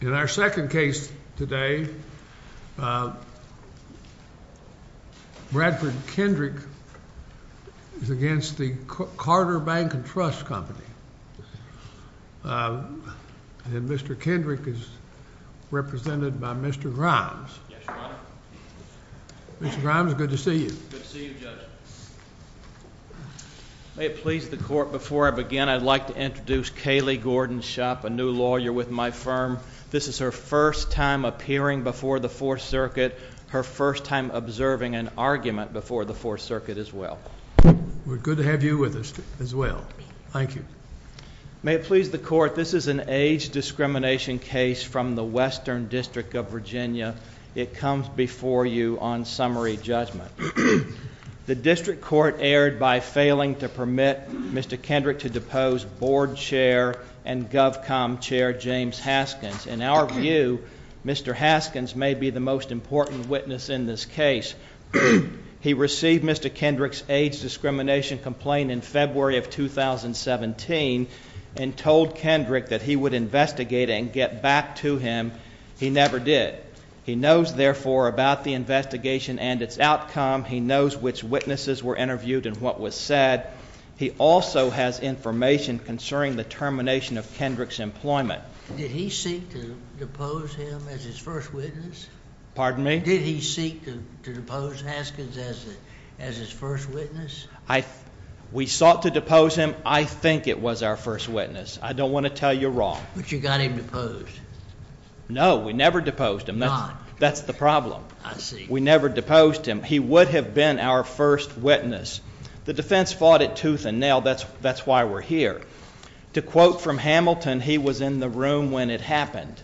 In our second case today, Bradford Kendrick is against the Carter Bank & Trust Company. And Mr. Kendrick is represented by Mr. Grimes. Yes, Your Honor. Mr. Grimes, good to see you. Good to see you, Judge. May it please the Court, before I begin, I'd like to introduce Kaylee Gordon-Shopp, a new lawyer with my firm. This is her first time appearing before the Fourth Circuit, her first time observing an argument before the Fourth Circuit as well. We're good to have you with us as well. Thank you. May it please the Court, this is an age discrimination case from the Western District of Virginia. It comes before you on summary judgment. The District Court erred by failing to permit Mr. Kendrick to depose Board Chair and GovComm Chair James Haskins. In our view, Mr. Haskins may be the most important witness in this case. He received Mr. Kendrick's age discrimination complaint in February of 2017 and told Kendrick that he would investigate and get back to him. He never did. He knows, therefore, about the investigation and its outcome. He knows which witnesses were interviewed and what was said. He also has information concerning the termination of Kendrick's employment. Did he seek to depose him as his first witness? Pardon me? Did he seek to depose Haskins as his first witness? We sought to depose him. I think it was our first witness. I don't want to tell you wrong. But you got him deposed. No, we never deposed him. That's the problem. I see. We never deposed him. He would have been our first witness. The defense fought it tooth and nail. That's why we're here. To quote from Hamilton, he was in the room when it happened.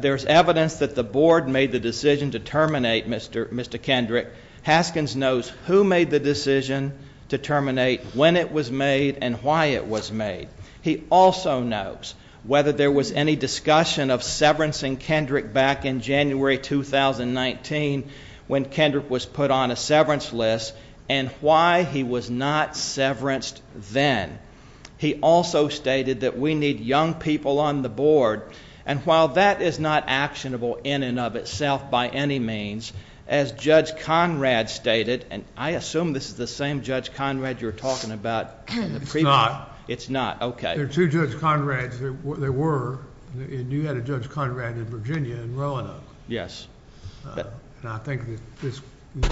There's evidence that the Board made the decision to terminate Mr. Kendrick. Haskins knows who made the decision to terminate, when it was made, and why it was made. He also knows whether there was any discussion of severancing Kendrick back in January 2019 when Kendrick was put on a severance list and why he was not severanced then. He also stated that we need young people on the Board, and while that is not actionable in and of itself by any means, as Judge Conrad stated, and I assume this is the same Judge Conrad you were talking about. It's not. It's not. There are two Judge Conrads. There were, and you had a Judge Conrad in Virginia in Roanoke. Yes. And I think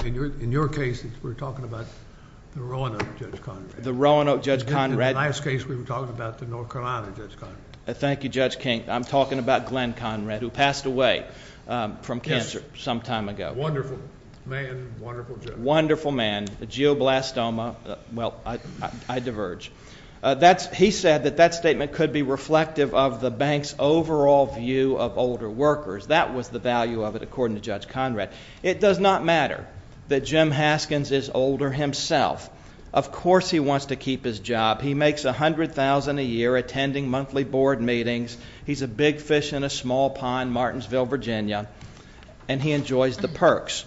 in your case, we're talking about the Roanoke Judge Conrad. The Roanoke Judge Conrad. In the last case, we were talking about the North Carolina Judge Conrad. Thank you, Judge King. I'm talking about Glenn Conrad, who passed away from cancer some time ago. Wonderful man, wonderful judge. Wonderful man. A geoblastoma. Well, I diverge. He said that that statement could be reflective of the bank's overall view of older workers. That was the value of it, according to Judge Conrad. It does not matter that Jim Haskins is older himself. Of course he wants to keep his job. He makes $100,000 a year attending monthly Board meetings. He's a big fish in a small pond, Martinsville, Virginia, and he enjoys the perks.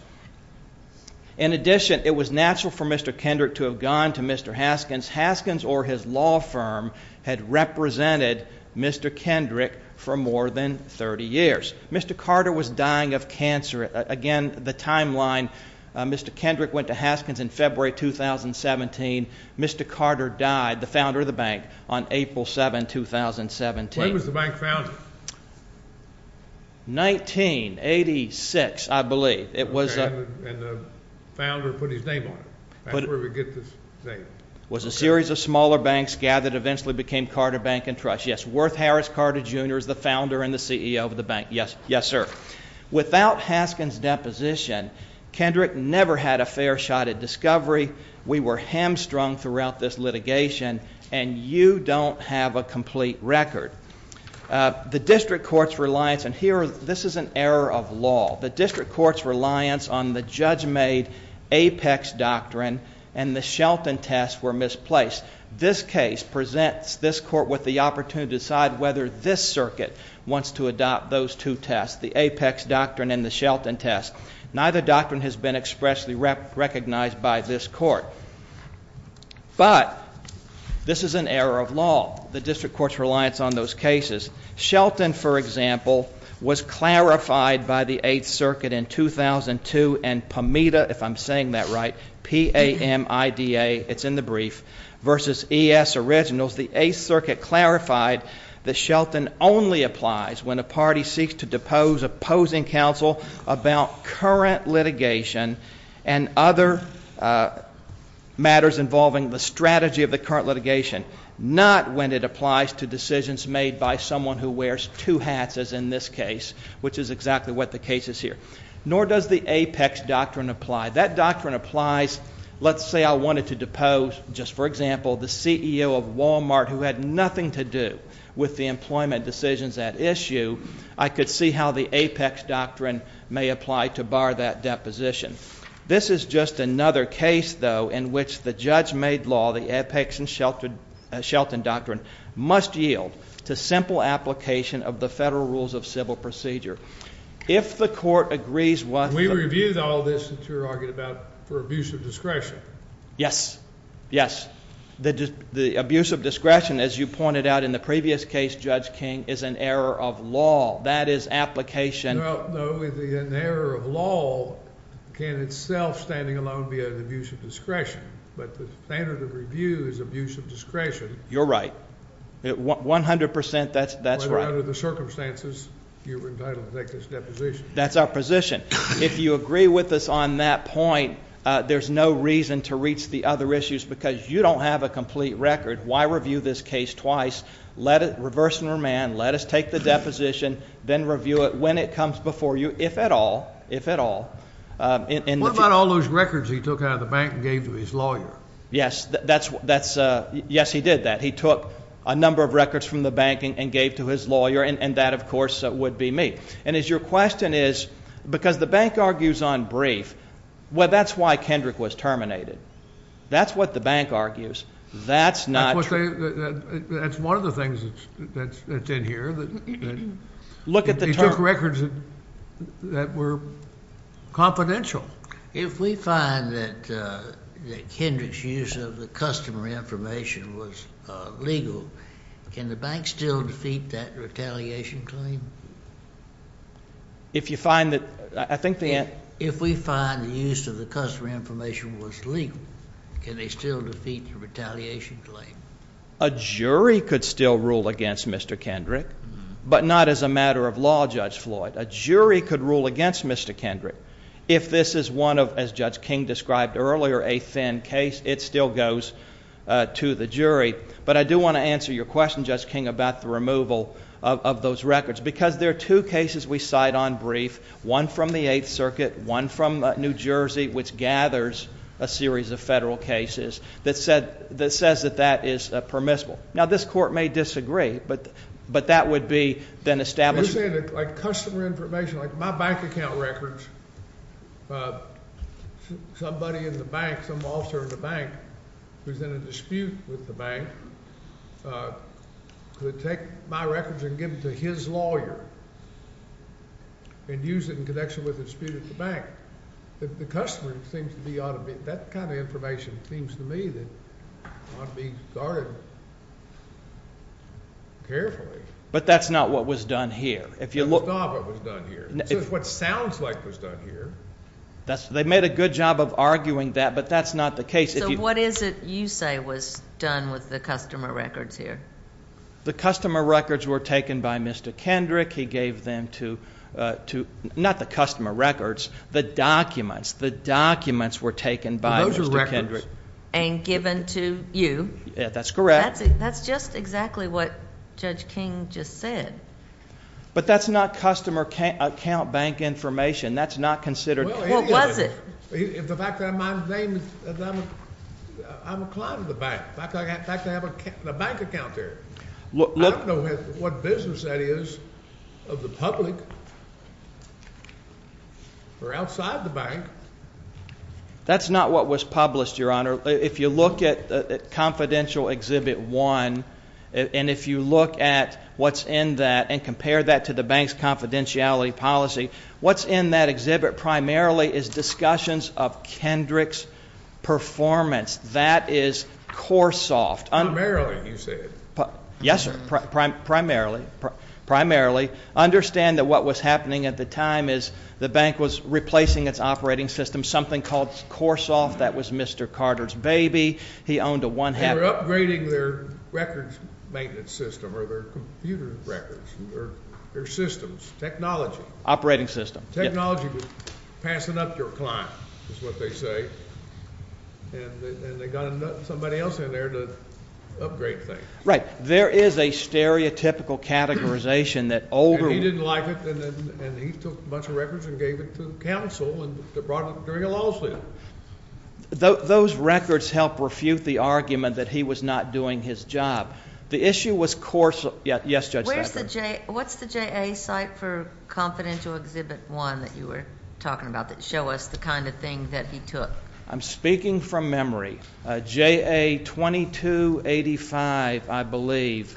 In addition, it was natural for Mr. Kendrick to have gone to Mr. Haskins. Haskins or his law firm had represented Mr. Kendrick for more than 30 years. Mr. Carter was dying of cancer. Again, the timeline, Mr. Kendrick went to Haskins in February 2017. Mr. Carter died, the founder of the bank, on April 7, 2017. When was the bank founded? 1986, I believe. And the founder put his name on it. That's where we get this name. It was a series of smaller banks gathered, eventually became Carter Bank & Trust. Yes, Worth Harris Carter, Jr. is the founder and the CEO of the bank. Yes, sir. Without Haskins' deposition, Kendrick never had a fair shot at discovery. We were hamstrung throughout this litigation, and you don't have a complete record. The district court's reliance, and here, this is an error of law. The district court's reliance on the judge-made Apex Doctrine and the Shelton test were misplaced. This case presents this court with the opportunity to decide whether this circuit wants to adopt those two tests, the Apex Doctrine and the Shelton test. Neither doctrine has been expressly recognized by this court. But this is an error of law, the district court's reliance on those cases. Shelton, for example, was clarified by the 8th Circuit in 2002 and PAMIDA, if I'm saying that right, P-A-M-I-D-A, it's in the brief, versus E.S. Originals. The 8th Circuit clarified that Shelton only applies when a party seeks to depose opposing counsel about current litigation and other matters involving the strategy of the current litigation, not when it applies to decisions made by someone who wears two hats, as in this case, which is exactly what the case is here. Nor does the Apex Doctrine apply. That doctrine applies, let's say I wanted to depose, just for example, the CEO of Walmart who had nothing to do with the employment decisions at issue, I could see how the Apex Doctrine may apply to bar that deposition. This is just another case, though, in which the judge-made law, the Apex and Shelton Doctrine, must yield to simple application of the Federal Rules of Civil Procedure. If the court agrees with the- We reviewed all of this that you're arguing about for abuse of discretion. Yes, yes. The abuse of discretion, as you pointed out in the previous case, Judge King, is an error of law. That is application- No, an error of law can itself, standing alone, be an abuse of discretion. But the standard of review is abuse of discretion. You're right. One hundred percent, that's right. Under the circumstances, you were entitled to take this deposition. That's our position. If you agree with us on that point, there's no reason to reach the other issues, because you don't have a complete record. Why review this case twice, reverse and remand, let us take the deposition, then review it when it comes before you, if at all, if at all. What about all those records he took out of the bank and gave to his lawyer? Yes, he did that. He took a number of records from the bank and gave to his lawyer, and that, of course, would be me. And your question is, because the bank argues on brief, well, that's why Kendrick was terminated. That's what the bank argues. That's not true. That's one of the things that's in here. Look at the term. He took records that were confidential. If we find that Kendrick's use of the customer information was legal, can the bank still defeat that retaliation claim? If you find that the use of the customer information was legal, can they still defeat the retaliation claim? A jury could still rule against Mr. Kendrick, but not as a matter of law, Judge Floyd. A jury could rule against Mr. Kendrick. If this is one of, as Judge King described earlier, a thin case, it still goes to the jury. But I do want to answer your question, Judge King, about the removal of those records, because there are two cases we cite on brief, one from the Eighth Circuit, one from New Jersey, which gathers a series of federal cases that says that that is permissible. Now, this court may disagree, but that would be then established. You're saying that, like, customer information, like my bank account records, somebody in the bank, some officer in the bank who's in a dispute with the bank could take my records and give them to his lawyer and use it in connection with a dispute at the bank. The customer seems to be ought to be, that kind of information seems to me that ought to be started carefully. But that's not what was done here. It's not what was done here. It's what sounds like was done here. They made a good job of arguing that, but that's not the case. So what is it you say was done with the customer records here? The customer records were taken by Mr. Kendrick. He gave them to, not the customer records, the documents. The documents were taken by Mr. Kendrick. And given to you. That's correct. That's just exactly what Judge King just said. But that's not customer account bank information. That's not considered. Well, it is. What was it? The fact that I'm a client of the bank, the fact that I have a bank account there. I don't know what business that is of the public or outside the bank. That's not what was published, Your Honor. If you look at Confidential Exhibit 1, and if you look at what's in that and compare that to the bank's confidentiality policy, what's in that exhibit primarily is discussions of Kendrick's performance. That is core soft. Primarily, you said. Yes, sir. Primarily. Understand that what was happening at the time is the bank was replacing its operating system. Something called core soft. That was Mr. Carter's baby. He owned a one-half. They were upgrading their records maintenance system or their computer records or their systems. Operating system. Technology. Passing up your client is what they say. And they got somebody else in there to upgrade things. Right. There is a stereotypical categorization that older. He didn't like it, and he took a bunch of records and gave it to counsel and brought it during a law suit. Those records help refute the argument that he was not doing his job. The issue was core soft. Yes, Judge Steckler. What's the JA site for confidential exhibit one that you were talking about that show us the kind of thing that he took? I'm speaking from memory. JA 2285, I believe.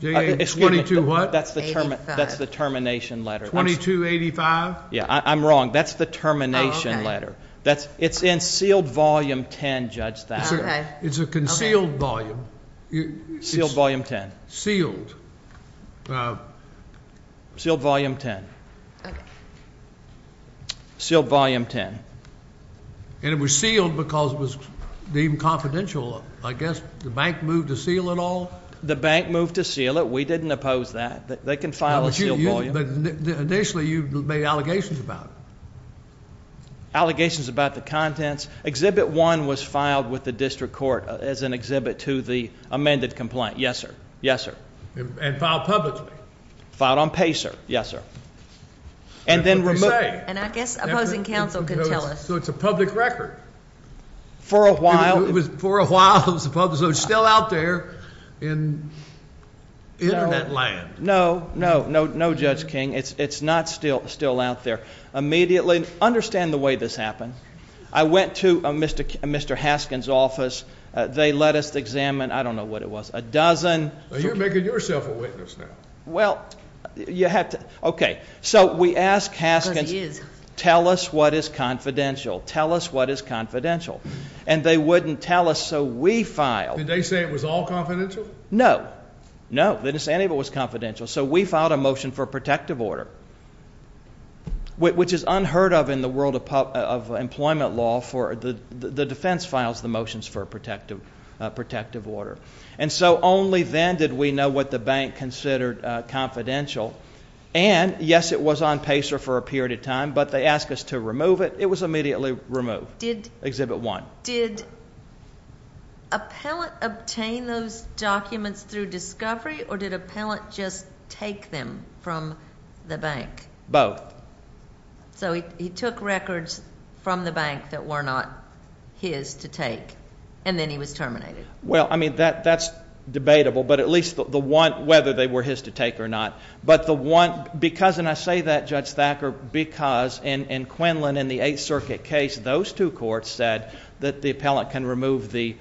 JA 22 what? That's the termination letter. 2285? I'm wrong. That's the termination letter. It's in sealed volume 10, Judge Thacker. It's a concealed volume. Sealed volume 10. Sealed. Sealed volume 10. Sealed volume 10. And it was sealed because it was deemed confidential. I guess the bank moved to seal it all. The bank moved to seal it. We didn't oppose that. They can file a sealed volume. Initially, you made allegations about it. Allegations about the contents. Exhibit one was filed with the district court as an exhibit to the amended complaint. Yes, sir. Yes, sir. And filed publicly. Filed on PACER. Yes, sir. And then removed. And I guess opposing counsel can tell us. So it's a public record. For a while. For a while. So it's still out there in Internet land. No. No. No, Judge King. It's not still out there. Immediately, understand the way this happened. I went to Mr. Haskins' office. They let us examine, I don't know what it was, a dozen. You're making yourself a witness now. Well, you have to. So we asked Haskins. Because he is. Tell us what is confidential. Tell us what is confidential. And they wouldn't tell us, so we filed. Did they say it was all confidential? No. No. They didn't say any of it was confidential. So we filed a motion for a protective order, which is unheard of in the world of employment law. The defense files the motions for a protective order. And so only then did we know what the bank considered confidential. And, yes, it was on PACER for a period of time, but they asked us to remove it. It was immediately removed. Exhibit one. Did appellant obtain those documents through discovery, or did appellant just take them from the bank? Both. So he took records from the bank that were not his to take, and then he was terminated. Well, I mean, that's debatable, but at least the one, whether they were his to take or not. But the one, because, and I say that, Judge Thacker, because in Quinlan, in the Eighth Circuit case, those two courts said that the appellant can remove the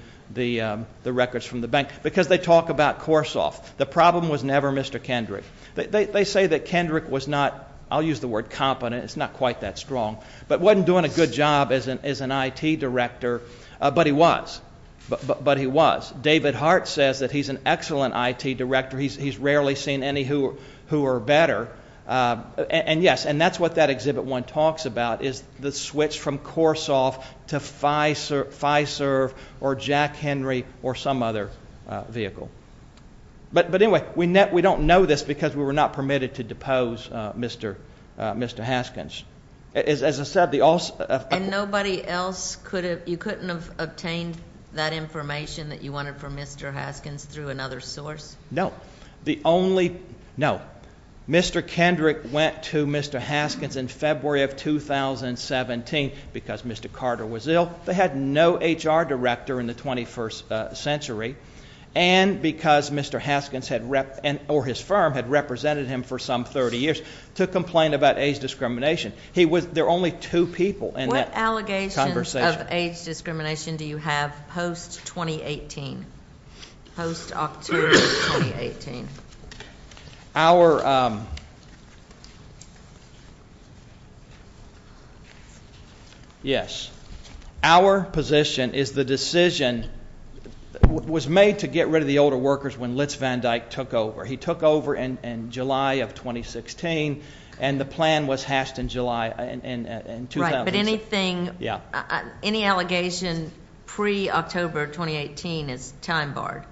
records from the bank. Because they talk about Korshoff. The problem was never Mr. Kendrick. They say that Kendrick was not, I'll use the word competent, it's not quite that strong, but wasn't doing a good job as an IT director, but he was. But he was. David Hart says that he's an excellent IT director. He's rarely seen any who are better. And, yes, and that's what that exhibit one talks about is the switch from Korshoff to Fiserv or Jack Henry or some other vehicle. But, anyway, we don't know this because we were not permitted to depose Mr. Haskins. As I said, the also- And nobody else could have, you couldn't have obtained that information that you wanted from Mr. Haskins through another source? No. The only, no. Mr. Kendrick went to Mr. Haskins in February of 2017 because Mr. Carter was ill. They had no HR director in the 21st century. And because Mr. Haskins had, or his firm, had represented him for some 30 years to complain about age discrimination. He was, there were only two people in that conversation. What allegations of age discrimination do you have post-2018, post-October 2018? Our, yes. Our position is the decision was made to get rid of the older workers when Litz Van Dyke took over. He took over in July of 2016, and the plan was hashed in July in- Right, but anything- Yeah. Any allegation pre-October 2018 is time barred?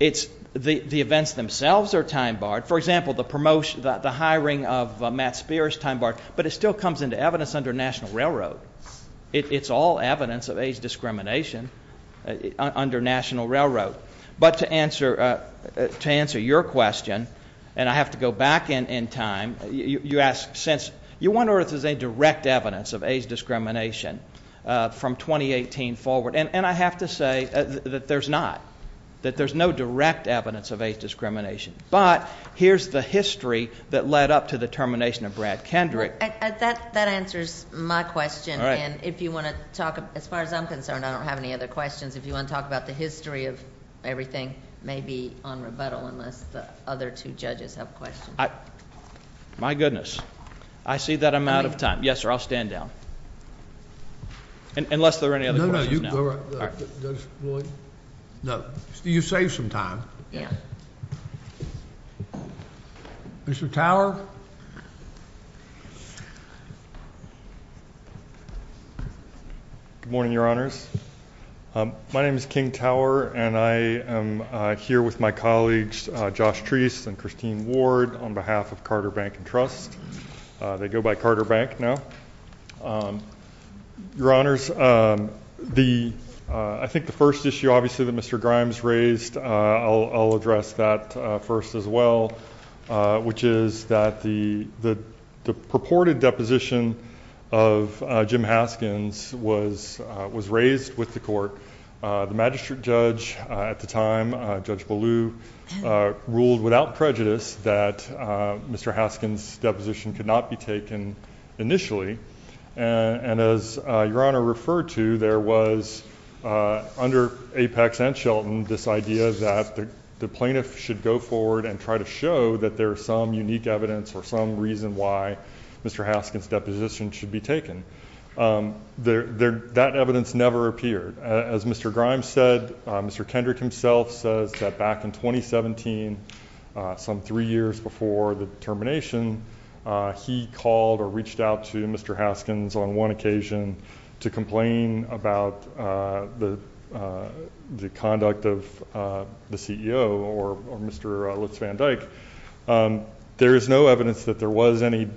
It's, the events themselves are time barred. For example, the promotion, the hiring of Matt Spears, time barred. But it still comes into evidence under National Railroad. It's all evidence of age discrimination under National Railroad. But to answer, to answer your question, and I have to go back in time. You ask, since, you wonder if there's any direct evidence of age discrimination from 2018 forward. And I have to say that there's not. That there's no direct evidence of age discrimination. But here's the history that led up to the termination of Brad Kendrick. That answers my question. And if you want to talk, as far as I'm concerned, I don't have any other questions. If you want to talk about the history of everything, maybe on rebuttal, unless the other two judges have questions. My goodness. I see that I'm out of time. Yes, sir, I'll stand down. Unless there are any other questions now. No, no. You saved some time. Yeah. Mr. Tower? Good morning, Your Honors. My name is King Tower, and I am here with my colleagues, Josh Treese and Christine Ward, on behalf of Carter Bank and Trust. They go by Carter Bank now. Your Honors, I think the first issue, obviously, that Mr. Grimes raised, I'll address that first as well, which is that the purported deposition of Jim Haskins was raised with the court. The magistrate judge at the time, Judge Ballew, ruled without prejudice that Mr. Haskins' deposition could not be taken initially. And as Your Honor referred to, there was, under Apex and Shelton, this idea that the plaintiff should go forward and try to show that there is some unique evidence or some reason why Mr. Haskins' deposition should be taken. That evidence never appeared. As Mr. Grimes said, Mr. Kendrick himself says that back in 2017, some three years before the termination, he called or reached out to Mr. Haskins on one occasion to complain about the conduct of the CEO or Mr. Litz Van Dyke. There is no evidence that there was any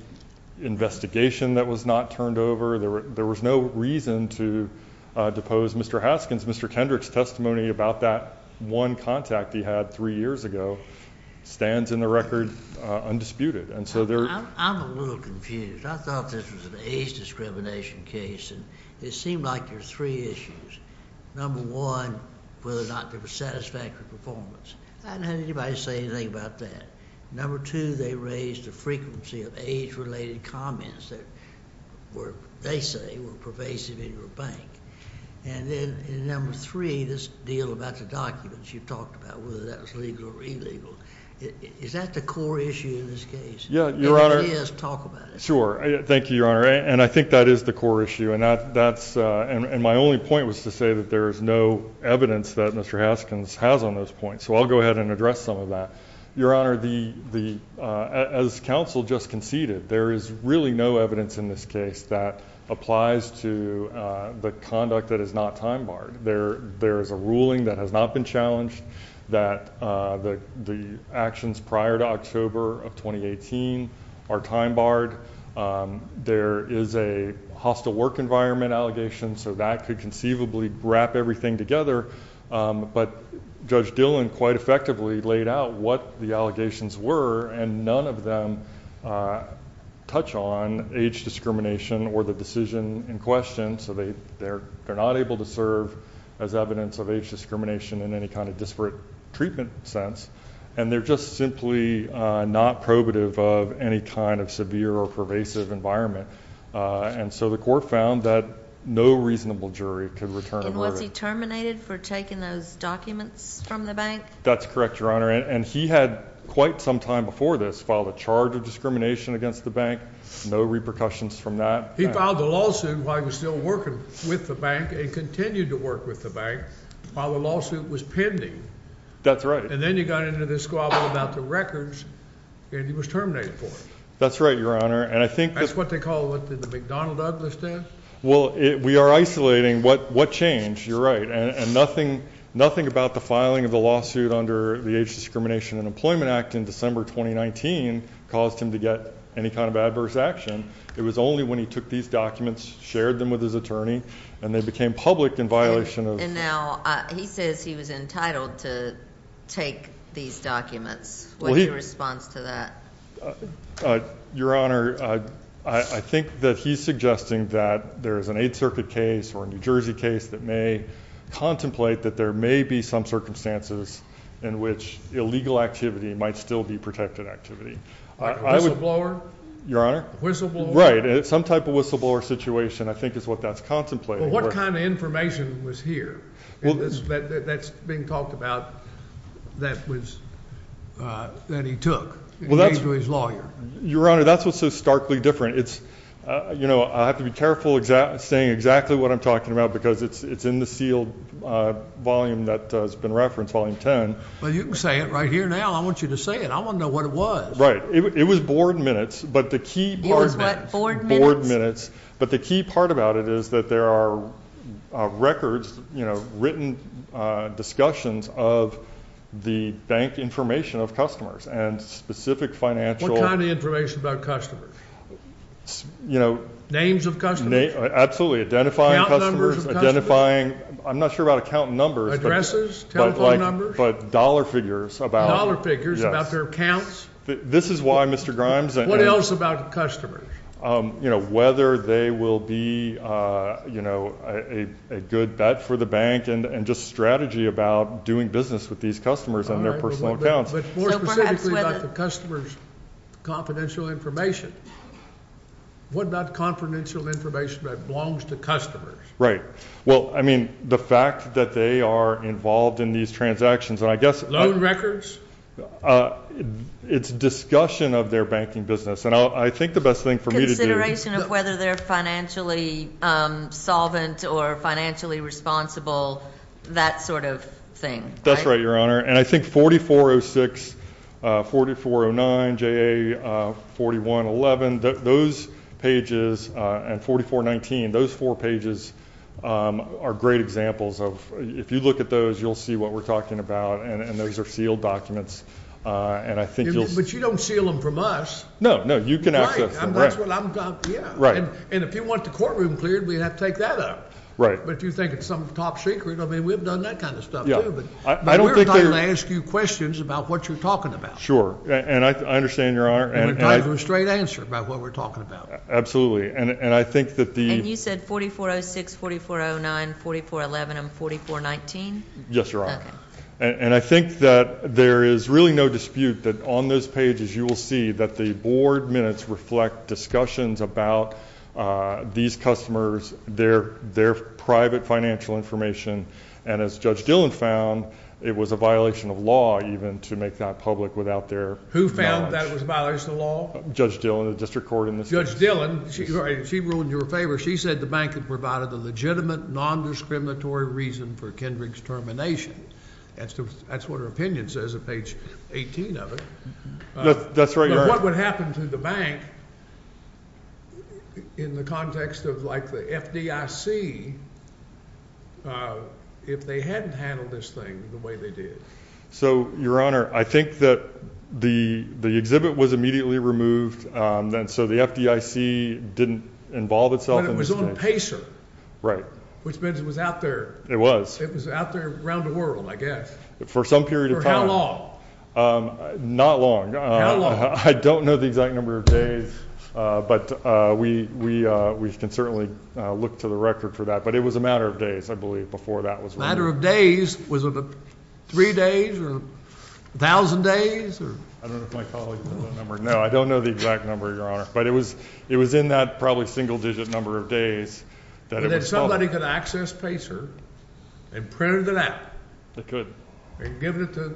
investigation that was not turned over. There was no reason to depose Mr. Haskins. Mr. Kendrick's testimony about that one contact he had three years ago stands in the record undisputed. I'm a little confused. I thought this was an age discrimination case, and it seemed like there were three issues. Number one, whether or not there was satisfactory performance. I didn't have anybody say anything about that. Number two, they raised the frequency of age-related comments that they say were pervasive in your bank. And then number three, this deal about the documents you talked about, whether that was legal or illegal. Is that the core issue in this case? If it is, talk about it. Sure. Thank you, Your Honor. And I think that is the core issue, and my only point was to say that there is no evidence that Mr. Haskins has on those points. So I'll go ahead and address some of that. Your Honor, as counsel just conceded, there is really no evidence in this case that applies to the conduct that is not time-barred. There is a ruling that has not been challenged that the actions prior to October of 2018 are time-barred. There is a hostile work environment allegation, so that could conceivably wrap everything together. But Judge Dillon quite effectively laid out what the allegations were, and none of them touch on age discrimination or the decision in question. So they're not able to serve as evidence of age discrimination in any kind of disparate treatment sense. And they're just simply not probative of any kind of severe or pervasive environment. And so the court found that no reasonable jury could return a verdict. And was he terminated for taking those documents from the bank? That's correct, Your Honor. And he had quite some time before this filed a charge of discrimination against the bank. No repercussions from that. He filed a lawsuit while he was still working with the bank and continued to work with the bank while the lawsuit was pending. That's right. And then he got into this squabble about the records, and he was terminated for it. That's right, Your Honor. That's what they call what the McDonnell Douglas did. Well, we are isolating. What changed? You're right. And nothing about the filing of the lawsuit under the Age Discrimination and Employment Act in December 2019 caused him to get any kind of adverse action. It was only when he took these documents, shared them with his attorney, and they became public in violation of. And now he says he was entitled to take these documents. What's your response to that? Your Honor, I think that he's suggesting that there is an Eighth Circuit case or a New Jersey case that may contemplate that there may be some circumstances in which illegal activity might still be protected activity. Your Honor? Whistleblower? Right. Some type of whistleblower situation, I think, is what that's contemplating. Well, what kind of information was here that's being talked about that he took to his lawyer? Your Honor, that's what's so starkly different. You know, I have to be careful saying exactly what I'm talking about because it's in the sealed volume that has been referenced, Volume 10. Well, you can say it right here now. I want you to say it. I want to know what it was. Right. It was board minutes. It was what? Board minutes? Board minutes. But the key part about it is that there are records, you know, written discussions of the bank information of customers and specific financial... What kind of information about customers? You know... Names of customers? Absolutely. Account numbers of customers? Identifying customers, identifying... I'm not sure about account numbers. Telephone numbers? But dollar figures about... Dollar figures about their accounts? This is why Mr. Grimes... What else about customers? You know, whether they will be, you know, a good bet for the bank and just strategy about doing business with these customers and their personal accounts. But more specifically about the customer's confidential information. What about confidential information that belongs to customers? Right. Well, I mean, the fact that they are involved in these transactions, and I guess... Loan records? It's discussion of their banking business. And I think the best thing for me to do... Consideration of whether they're financially solvent or financially responsible, that sort of thing, right? That's right, Your Honor. And I think 4406, 4409, JA4111, those pages, and 4419, those four pages are great examples of... If you look at those, you'll see what we're talking about. And those are sealed documents. And I think you'll... But you don't seal them from us. No, no. You can access them. And that's what I'm... Yeah. Right. And if you want the courtroom cleared, we'd have to take that up. Right. But if you think it's some top secret, I mean, we've done that kind of stuff, too. Yeah. But we're trying to ask you questions about what you're talking about. Sure. And I understand, Your Honor. And we're trying for a straight answer about what we're talking about. Absolutely. And I think that the... And you said 4406, 4409, 4411, and 4419? Yes, Your Honor. Okay. And I think that there is really no dispute that on those pages, you will see that the board minutes reflect discussions about these customers, their private financial information. And as Judge Dillon found, it was a violation of law, even, to make that public without their knowledge. Who found that it was a violation of law? Judge Dillon, the district court in this case. Judge Dillon, she ruled in your favor. She said the bank had provided the legitimate, nondiscriminatory reason for Kendrick's termination. That's what her opinion says on page 18 of it. That's right, Your Honor. But what would happen to the bank in the context of, like, the FDIC, if they hadn't handled this thing the way they did? So, Your Honor, I think that the exhibit was immediately removed, and so the FDIC didn't involve itself in this case. But it was on PACER. Right. Which means it was out there. It was. It was out there around the world, I guess. For some period of time. For how long? Not long. How long? I don't know the exact number of days, but we can certainly look to the record for that. But it was a matter of days, I believe, before that was ruled. A matter of days? Was it three days or a thousand days? I don't know if my colleagues know that number. No, I don't know the exact number, Your Honor. But it was in that probably single-digit number of days. And then somebody could access PACER and print it out. They could. And give it to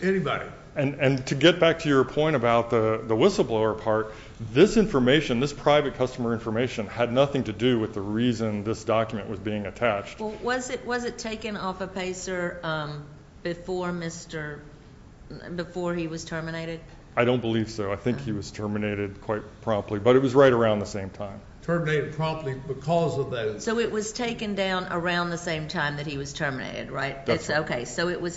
anybody. And to get back to your point about the whistleblower part, this information, this private customer information, had nothing to do with the reason this document was being attached. Well, was it taken off of PACER before he was terminated? I don't believe so. I think he was terminated quite promptly. But it was right around the same time. Terminated promptly because of that. So it was taken down around the same time that he was terminated, right? That's right. So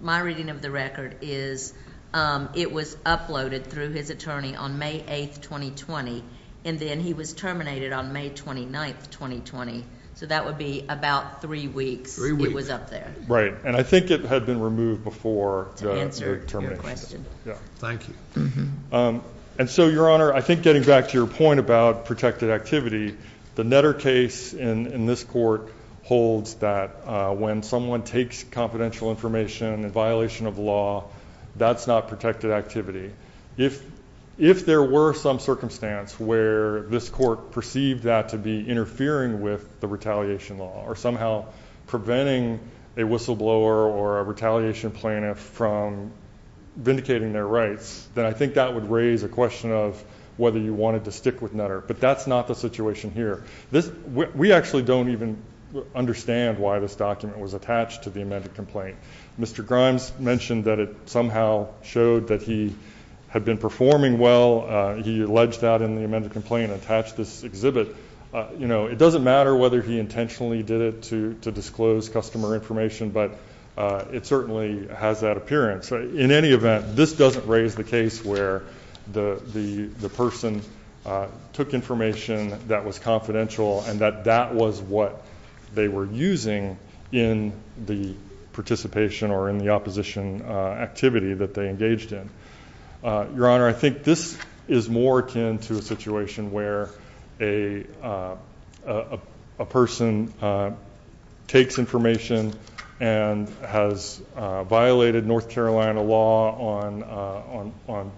my reading of the record is it was uploaded through his attorney on May 8, 2020, and then he was terminated on May 29, 2020. So that would be about three weeks he was up there. Right. And I think it had been removed before the termination. To answer your question. Yeah. Thank you. And so, Your Honor, I think getting back to your point about protected activity, the Netter case in this court holds that when someone takes confidential information in violation of law, that's not protected activity. If there were some circumstance where this court perceived that to be interfering with the retaliation law or somehow preventing a whistleblower or a retaliation plaintiff from vindicating their rights, then I think that would raise a question of whether you wanted to stick with Netter. But that's not the situation here. We actually don't even understand why this document was attached to the amended complaint. Mr. Grimes mentioned that it somehow showed that he had been performing well. He alleged that in the amended complaint attached this exhibit. You know, it doesn't matter whether he intentionally did it to disclose customer information, but it certainly has that appearance. In any event, this doesn't raise the case where the person took information that was confidential and that that was what they were using in the participation or in the opposition activity that they engaged in. Your Honor, I think this is more akin to a situation where a person takes information and has violated North Carolina law on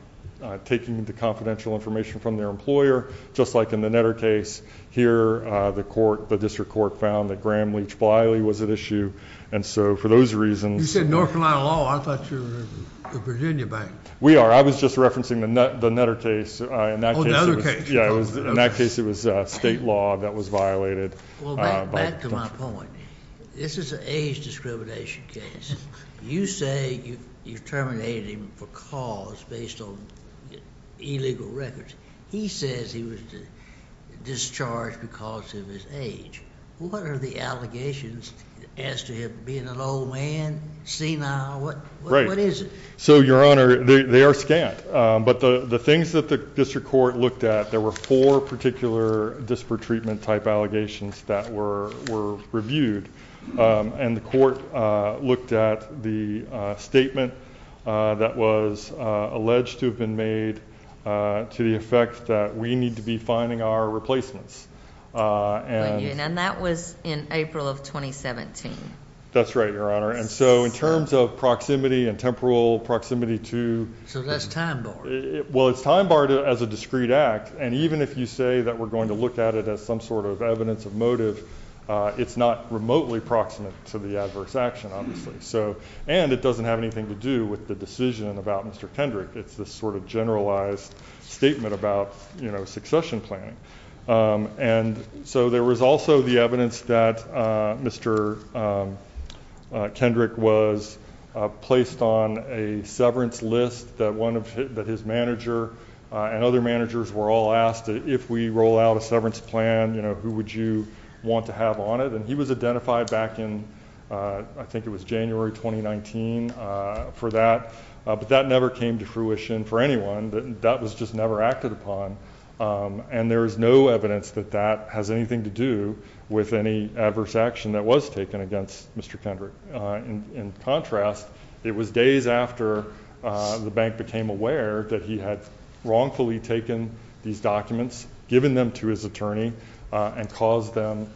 taking the confidential information from their employer, just like in the Netter case here. The court, the district court, found that Graham Leach Bliley was at issue. And so for those reasons. You said North Carolina law. I thought you were the Virginia bank. We are. I was just referencing the Netter case. Oh, the Netter case. Yeah, in that case it was state law that was violated. Well, back to my point. This is an age discrimination case. You say you terminated him for cause based on illegal records. He says he was discharged because of his age. What are the allegations as to him being an old man, senile? What is it? So, Your Honor, they are scant. But the things that the district court looked at, there were four particular disparate treatment type allegations that were reviewed. And the court looked at the statement that was alleged to have been made to the effect that we need to be finding our replacements. And that was in April of 2017. That's right, Your Honor. And so in terms of proximity and temporal proximity to. So that's time. Well, it's time barred as a discreet act. And even if you say that we're going to look at it as some sort of evidence of motive, it's not remotely proximate to the adverse action, obviously. And it doesn't have anything to do with the decision about Mr. Kendrick. It's this sort of generalized statement about succession planning. And so there was also the evidence that Mr. Kendrick was placed on a severance list that his manager and other managers were all asked, if we roll out a severance plan, who would you want to have on it? And he was identified back in I think it was January 2019 for that. But that never came to fruition for anyone. That was just never acted upon. And there is no evidence that that has anything to do with any adverse action that was taken against Mr. Kendrick. In contrast, it was days after the bank became aware that he had wrongfully taken these documents, given them to his attorney, and caused them,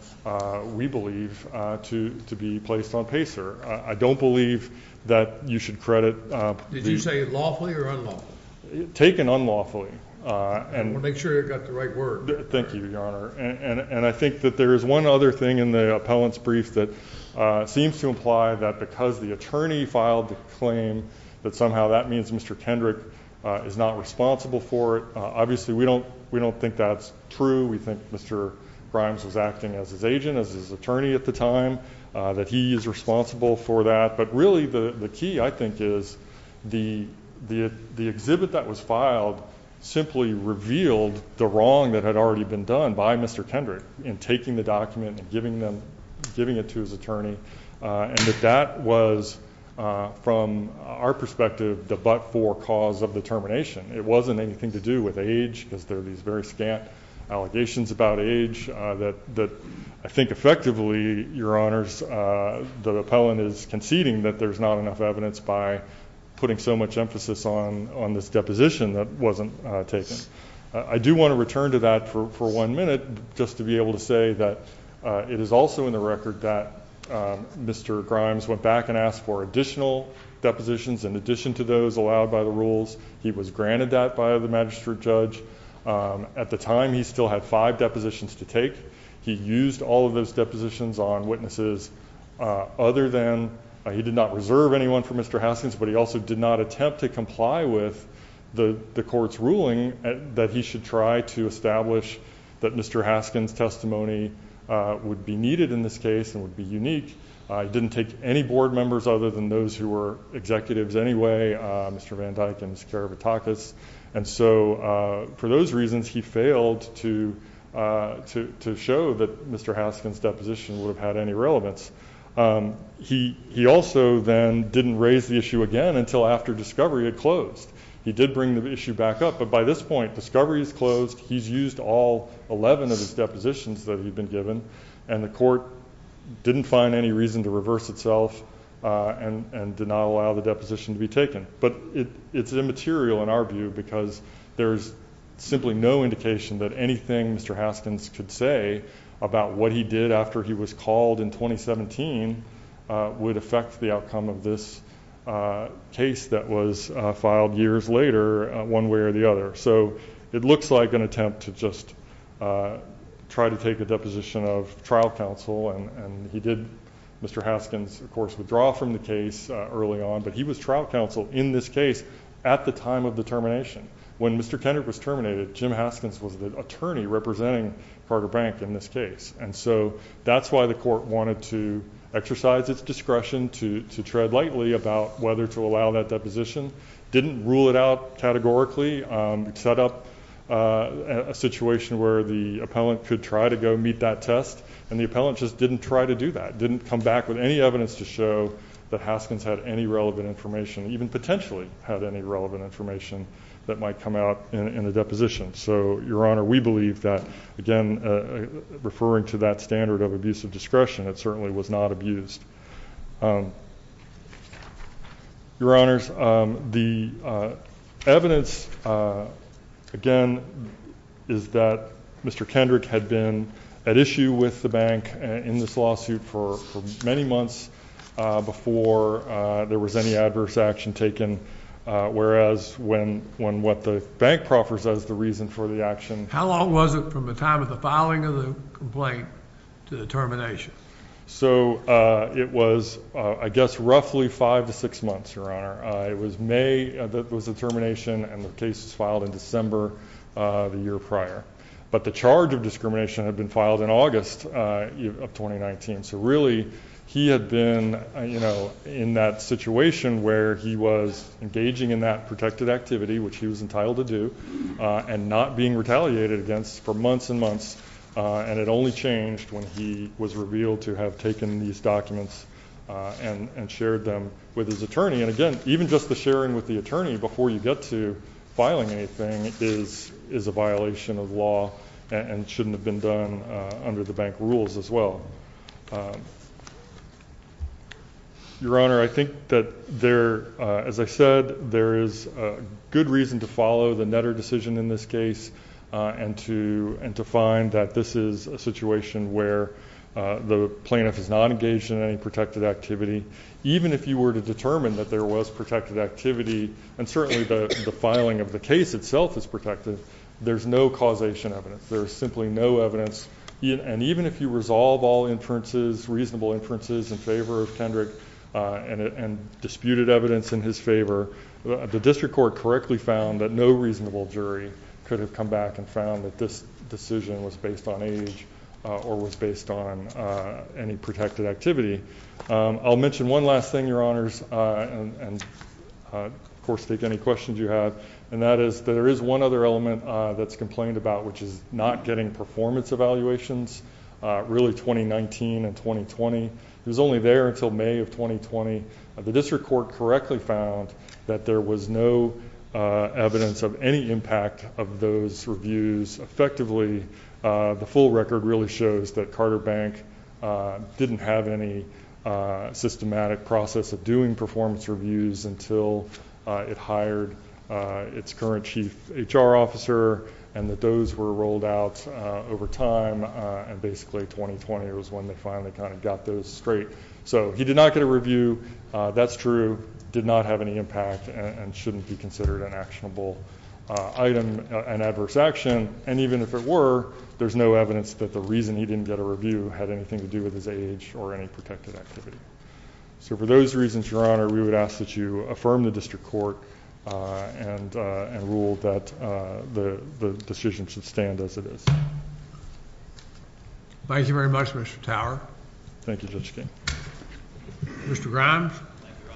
we believe, to be placed on PACER. I don't believe that you should credit the – Did you say lawfully or unlawfully? Taken unlawfully. Well, make sure you've got the right word. Thank you, Your Honor. And I think that there is one other thing in the appellant's brief that seems to imply that because the attorney filed the claim, that somehow that means Mr. Kendrick is not responsible for it. Obviously, we don't think that's true. We think Mr. Grimes was acting as his agent, as his attorney at the time, that he is responsible for that. But really the key, I think, is the exhibit that was filed simply revealed the wrong that had already been done by Mr. Kendrick in taking the document and giving it to his attorney, and that that was, from our perspective, the but-for cause of the termination. It wasn't anything to do with age because there are these very scant allegations about age that I think effectively, Your Honors, the appellant is conceding that there's not enough evidence by putting so much emphasis on this deposition that wasn't taken. I do want to return to that for one minute just to be able to say that it is also in the record that Mr. Grimes went back and asked for additional depositions in addition to those allowed by the rules. He was granted that by the magistrate judge. At the time, he still had five depositions to take. He used all of those depositions on witnesses other than he did not reserve anyone for Mr. Haskins, but he also did not attempt to comply with the rules. He did try to establish that Mr. Haskins' testimony would be needed in this case and would be unique. He didn't take any board members other than those who were executives anyway, Mr. Van Dyck and Mr. Kerebitakis. And so for those reasons, he failed to show that Mr. Haskins' deposition would have had any relevance. He also then didn't raise the issue again until after discovery had closed. He did bring the issue back up, but by this point, discovery is closed. He's used all 11 of his depositions that he'd been given, and the court didn't find any reason to reverse itself and did not allow the deposition to be taken. But it's immaterial in our view because there's simply no indication that anything Mr. Haskins could say about what he did after he was called in years later one way or the other. So it looks like an attempt to just try to take a deposition of trial counsel, and he did, Mr. Haskins, of course, withdraw from the case early on, but he was trial counsel in this case at the time of the termination. When Mr. Kendrick was terminated, Jim Haskins was the attorney representing Carter Bank in this case. And so that's why the court wanted to exercise its discretion to tread lightly about whether to allow that deposition, didn't rule it out categorically, set up a situation where the appellant could try to go meet that test, and the appellant just didn't try to do that, didn't come back with any evidence to show that Haskins had any relevant information, even potentially had any relevant information that might come out in the deposition. So, Your Honor, we believe that, again, referring to that standard of use of discretion, it certainly was not abused. Your Honors, the evidence, again, is that Mr. Kendrick had been at issue with the bank in this lawsuit for many months before there was any adverse action taken, whereas when what the bank proffers as the reason for the action. How long was it from the time of the filing of the complaint to the termination? So, it was, I guess, roughly five to six months, Your Honor. It was May that was the termination, and the case was filed in December the year prior. But the charge of discrimination had been filed in August of 2019. So, really, he had been, you know, in that situation where he was engaging in that protected activity, which he was entitled to do, and not being retaliated against for months and months. And it only changed when he was revealed to have taken these documents and shared them with his attorney. And, again, even just the sharing with the attorney before you get to filing anything is a violation of law and shouldn't have been done under the bank rules as well. Your Honor, I think that there, as I said, there is good reason to follow the Netter decision in this case and to find that this is a situation where the plaintiff is not engaged in any protected activity. Even if you were to determine that there was protected activity, and certainly the filing of the case itself is protected, there's no causation evidence. There's simply no evidence. And even if you resolve all inferences, reasonable inferences, in favor of Kendrick and disputed evidence in his favor, the district court correctly found that no reasonable jury could have come back and found that this decision was based on age or was based on any protected activity. I'll mention one last thing, Your Honors, and, of course, take any questions you have, and that is there is one other element that's complained about, which is not getting performance evaluations, really 2019 and 2020. It was only there until May of 2020. The district court correctly found that there was no evidence of any impact of those reviews. Effectively, the full record really shows that Carter Bank didn't have any systematic process of doing performance reviews until it hired its current chief HR officer and that those were rolled out over time, and basically 2020 was when they finally kind of got those straight. So he did not get a review. That's true. Did not have any impact and shouldn't be considered an actionable item, an adverse action. And even if it were, there's no evidence that the reason he didn't get a review had anything to do with his age or any protected activity. So for those reasons, Your Honor, we would ask that you affirm the district court and rule that the decision should stand as it is. Thank you very much, Mr. Tower. Thank you, Judge King. Mr. Grimes. Thank you, Your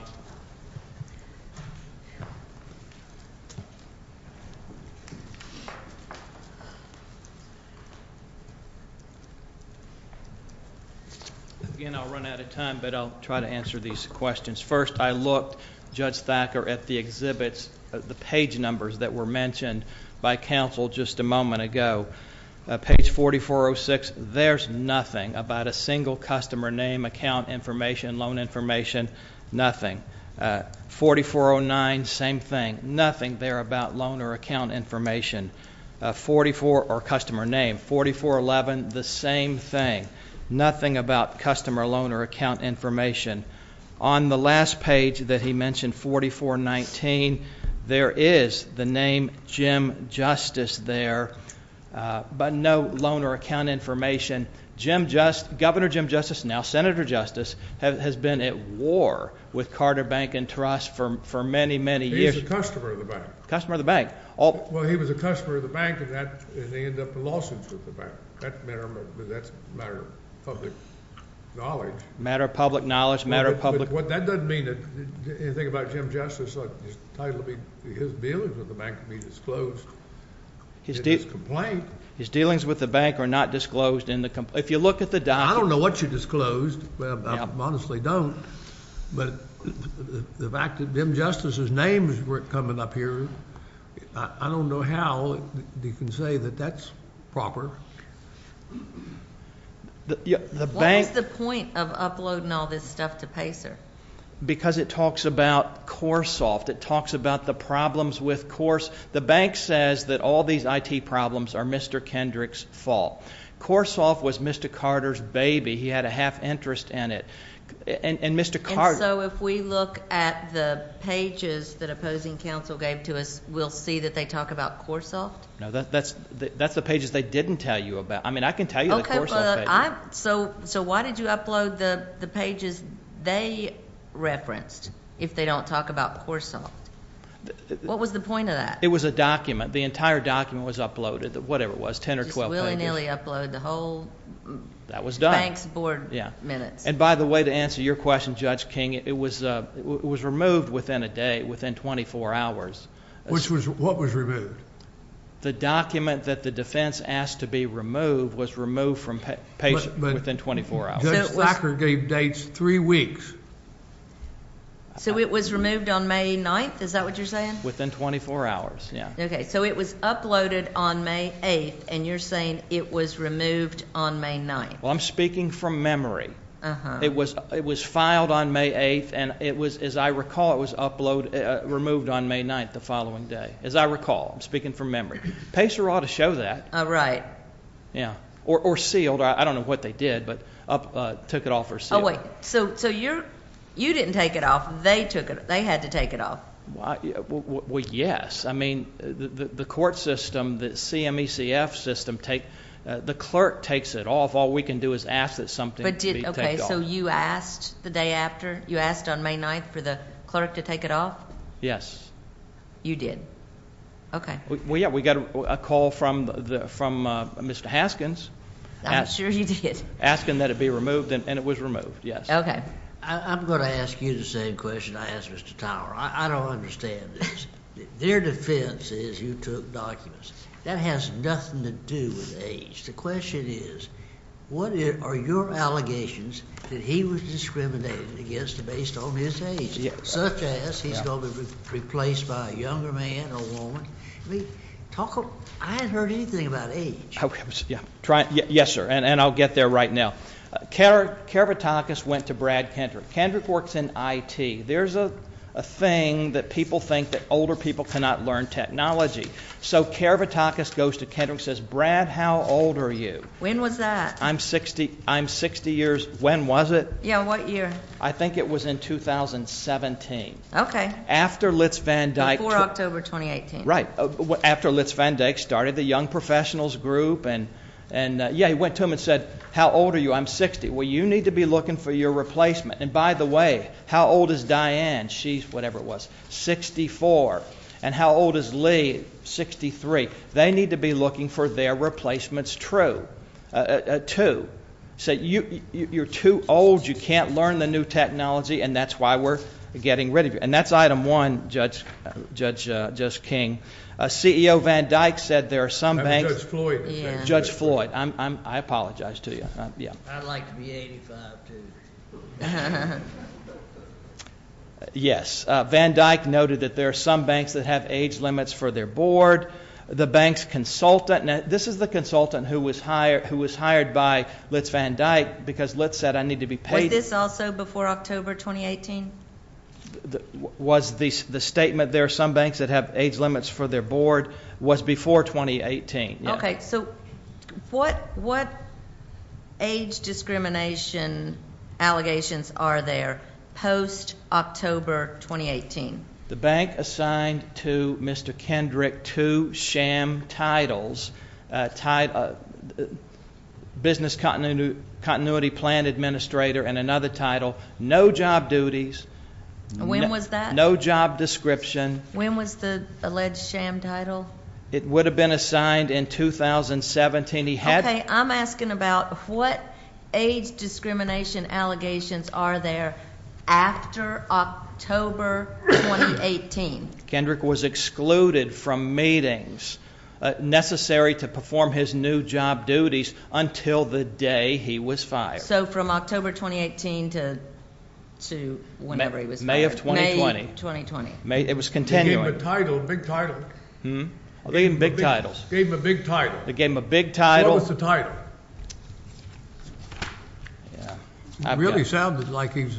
Honor. Again, I'll run out of time, but I'll try to answer these questions. First, I looked, Judge Thacker, at the exhibits, the page numbers that were mentioned by counsel just a moment ago. Page 4406, there's nothing about a single customer name, account information, loan information. Nothing. 4409, same thing. Nothing there about loan or account information. 44 or customer name. 4411, the same thing. Nothing about customer loan or account information. On the last page that he mentioned, 4419, there is the name Jim Justice there, but no loan or account information. Governor Jim Justice, now Senator Justice, has been at war with Carter Bank and Trust for many, many years. He's a customer of the bank. Customer of the bank. Well, he was a customer of the bank, and they ended up in lawsuits with the bank. That's a matter of public knowledge. A matter of public knowledge, a matter of public knowledge. But that doesn't mean anything about Jim Justice. His dealings with the bank can be disclosed in his complaint. His dealings with the bank are not disclosed in the complaint. If you look at the document. I don't know what you disclosed. I honestly don't. But the fact that Jim Justice's names weren't coming up here, I don't know how you can say that that's proper. What was the point of uploading all this stuff to PACER? Because it talks about CoreSoft. It talks about the problems with CoreSoft. The bank says that all these IT problems are Mr. Kendrick's fault. CoreSoft was Mr. Carter's baby. He had a half interest in it. And Mr. Carter. And so if we look at the pages that opposing counsel gave to us, we'll see that they talk about CoreSoft? No, that's the pages they didn't tell you about. I mean, I can tell you the CoreSoft page. So why did you upload the pages they referenced, if they don't talk about CoreSoft? What was the point of that? It was a document. The entire document was uploaded, whatever it was, 10 or 12 pages. Just willy-nilly upload the whole bank's board minutes. And by the way, to answer your question, Judge King, it was removed within a day, within 24 hours. What was removed? The document that the defense asked to be removed was removed from page within 24 hours. Judge Thacker gave dates three weeks. So it was removed on May 9th? Is that what you're saying? Within 24 hours, yeah. Okay. So it was uploaded on May 8th. And you're saying it was removed on May 9th. Well, I'm speaking from memory. It was filed on May 8th. And it was, as I recall, it was removed on May 9th, the following day. As I recall. I'm speaking from memory. PACER ought to show that. Oh, right. Yeah. Or sealed. I don't know what they did, but took it off or sealed it. Oh, wait. So you didn't take it off. They took it. They had to take it off. Well, yes. I mean, the court system, the CMECF system, the clerk takes it off. All we can do is ask that something be taken off. Okay. So you asked the day after? You asked on May 9th for the clerk to take it off? Yes. You did? Yeah, we got a call from Mr. Haskins. I'm sure you did. Asking that it be removed, and it was removed, yes. Okay. I'm going to ask you the same question I asked Mr. Tower. I don't understand this. Their defense is you took documents. That has nothing to do with age. The question is, what are your allegations that he was discriminated against based on his age? Such as he's going to be replaced by a younger man or woman. I mean, I haven't heard anything about age. Yes, sir. And I'll get there right now. Karvatakis went to Brad Kendrick. Kendrick works in IT. There's a thing that people think that older people cannot learn technology. So Karvatakis goes to Kendrick and says, Brad, how old are you? When was that? I'm 60 years. When was it? Yeah, what year? I think it was in 2017. Before October 2018. Right. After Litz Van Dyke started the Young Professionals Group and, yeah, he went to him and said, how old are you? I'm 60. Well, you need to be looking for your replacement. And, by the way, how old is Diane? She's, whatever it was, 64. And how old is Lee? 63. They need to be looking for their replacements too. He said, you're too old, you can't learn the new technology, and that's why we're getting rid of you. And that's item one, Judge King. CEO Van Dyke said there are some banks. Judge Floyd. Judge Floyd. I apologize to you. I'd like to be 85 too. Yes. Van Dyke noted that there are some banks that have age limits for their board. The bank's consultant. Now, this is the consultant who was hired by Litz Van Dyke because Litz said I need to be paid. Was this also before October 2018? The statement, there are some banks that have age limits for their board, was before 2018. Okay. So what age discrimination allegations are there post-October 2018? The bank assigned to Mr. Kendrick two sham titles, business continuity plan administrator and another title, no job duties. When was that? No job description. When was the alleged sham title? It would have been assigned in 2017. Okay. I'm asking about what age discrimination allegations are there after October 2018? Kendrick was excluded from meetings necessary to perform his new job duties until the day he was fired. So from October 2018 to whenever he was fired. May of 2020. May of 2020. It was continuing. He gave him a title, big title. Hmm? Big titles. Gave him a big title. Gave him a big title. What was the title? It really sounded like he was.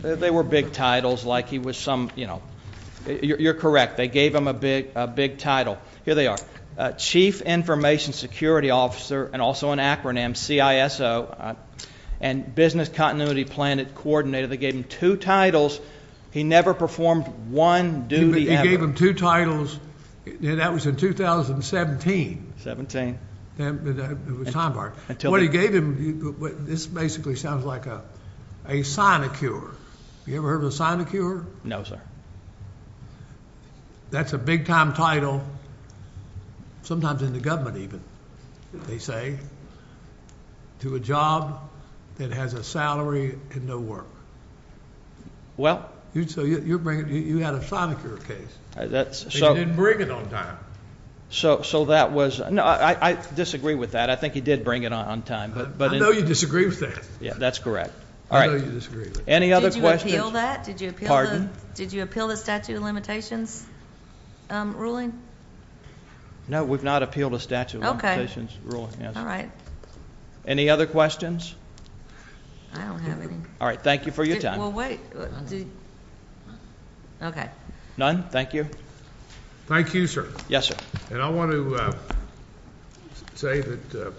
They were big titles like he was some, you know. You're correct. They gave him a big title. Here they are. Chief information security officer and also an acronym CISO and business continuity plan coordinator. They gave him two titles. He never performed one duty ever. That was in 2017. It was time hard. What he gave him, this basically sounds like a sinecure. You ever heard of a sinecure? No, sir. That's a big time title, sometimes in the government even, they say, to a job that has a salary and no work. Well. You had a sinecure case. He didn't bring it on time. So that was, no, I disagree with that. I think he did bring it on time. I know you disagree with that. Yeah, that's correct. I know you disagree with that. Any other questions? Did you appeal that? Pardon? Did you appeal the statute of limitations ruling? No, we've not appealed a statute of limitations ruling. All right. Any other questions? I don't have any. All right, thank you for your time. Well, wait. Okay. None? Thank you. Thank you, sir. Yes, sir. And I want to say that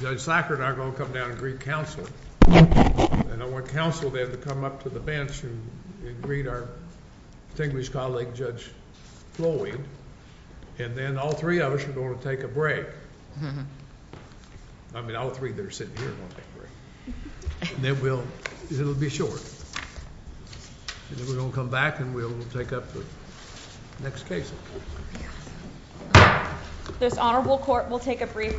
Judge Sacker and I are going to come down and greet counsel. And I want counsel then to come up to the bench and greet our distinguished colleague, Judge Flowey. And then all three of us are going to take a break. I mean, all three that are sitting here are going to take a break. And then we'll be short. And then we're going to come back and we'll take up the next case. This honorable court will take a brief recess.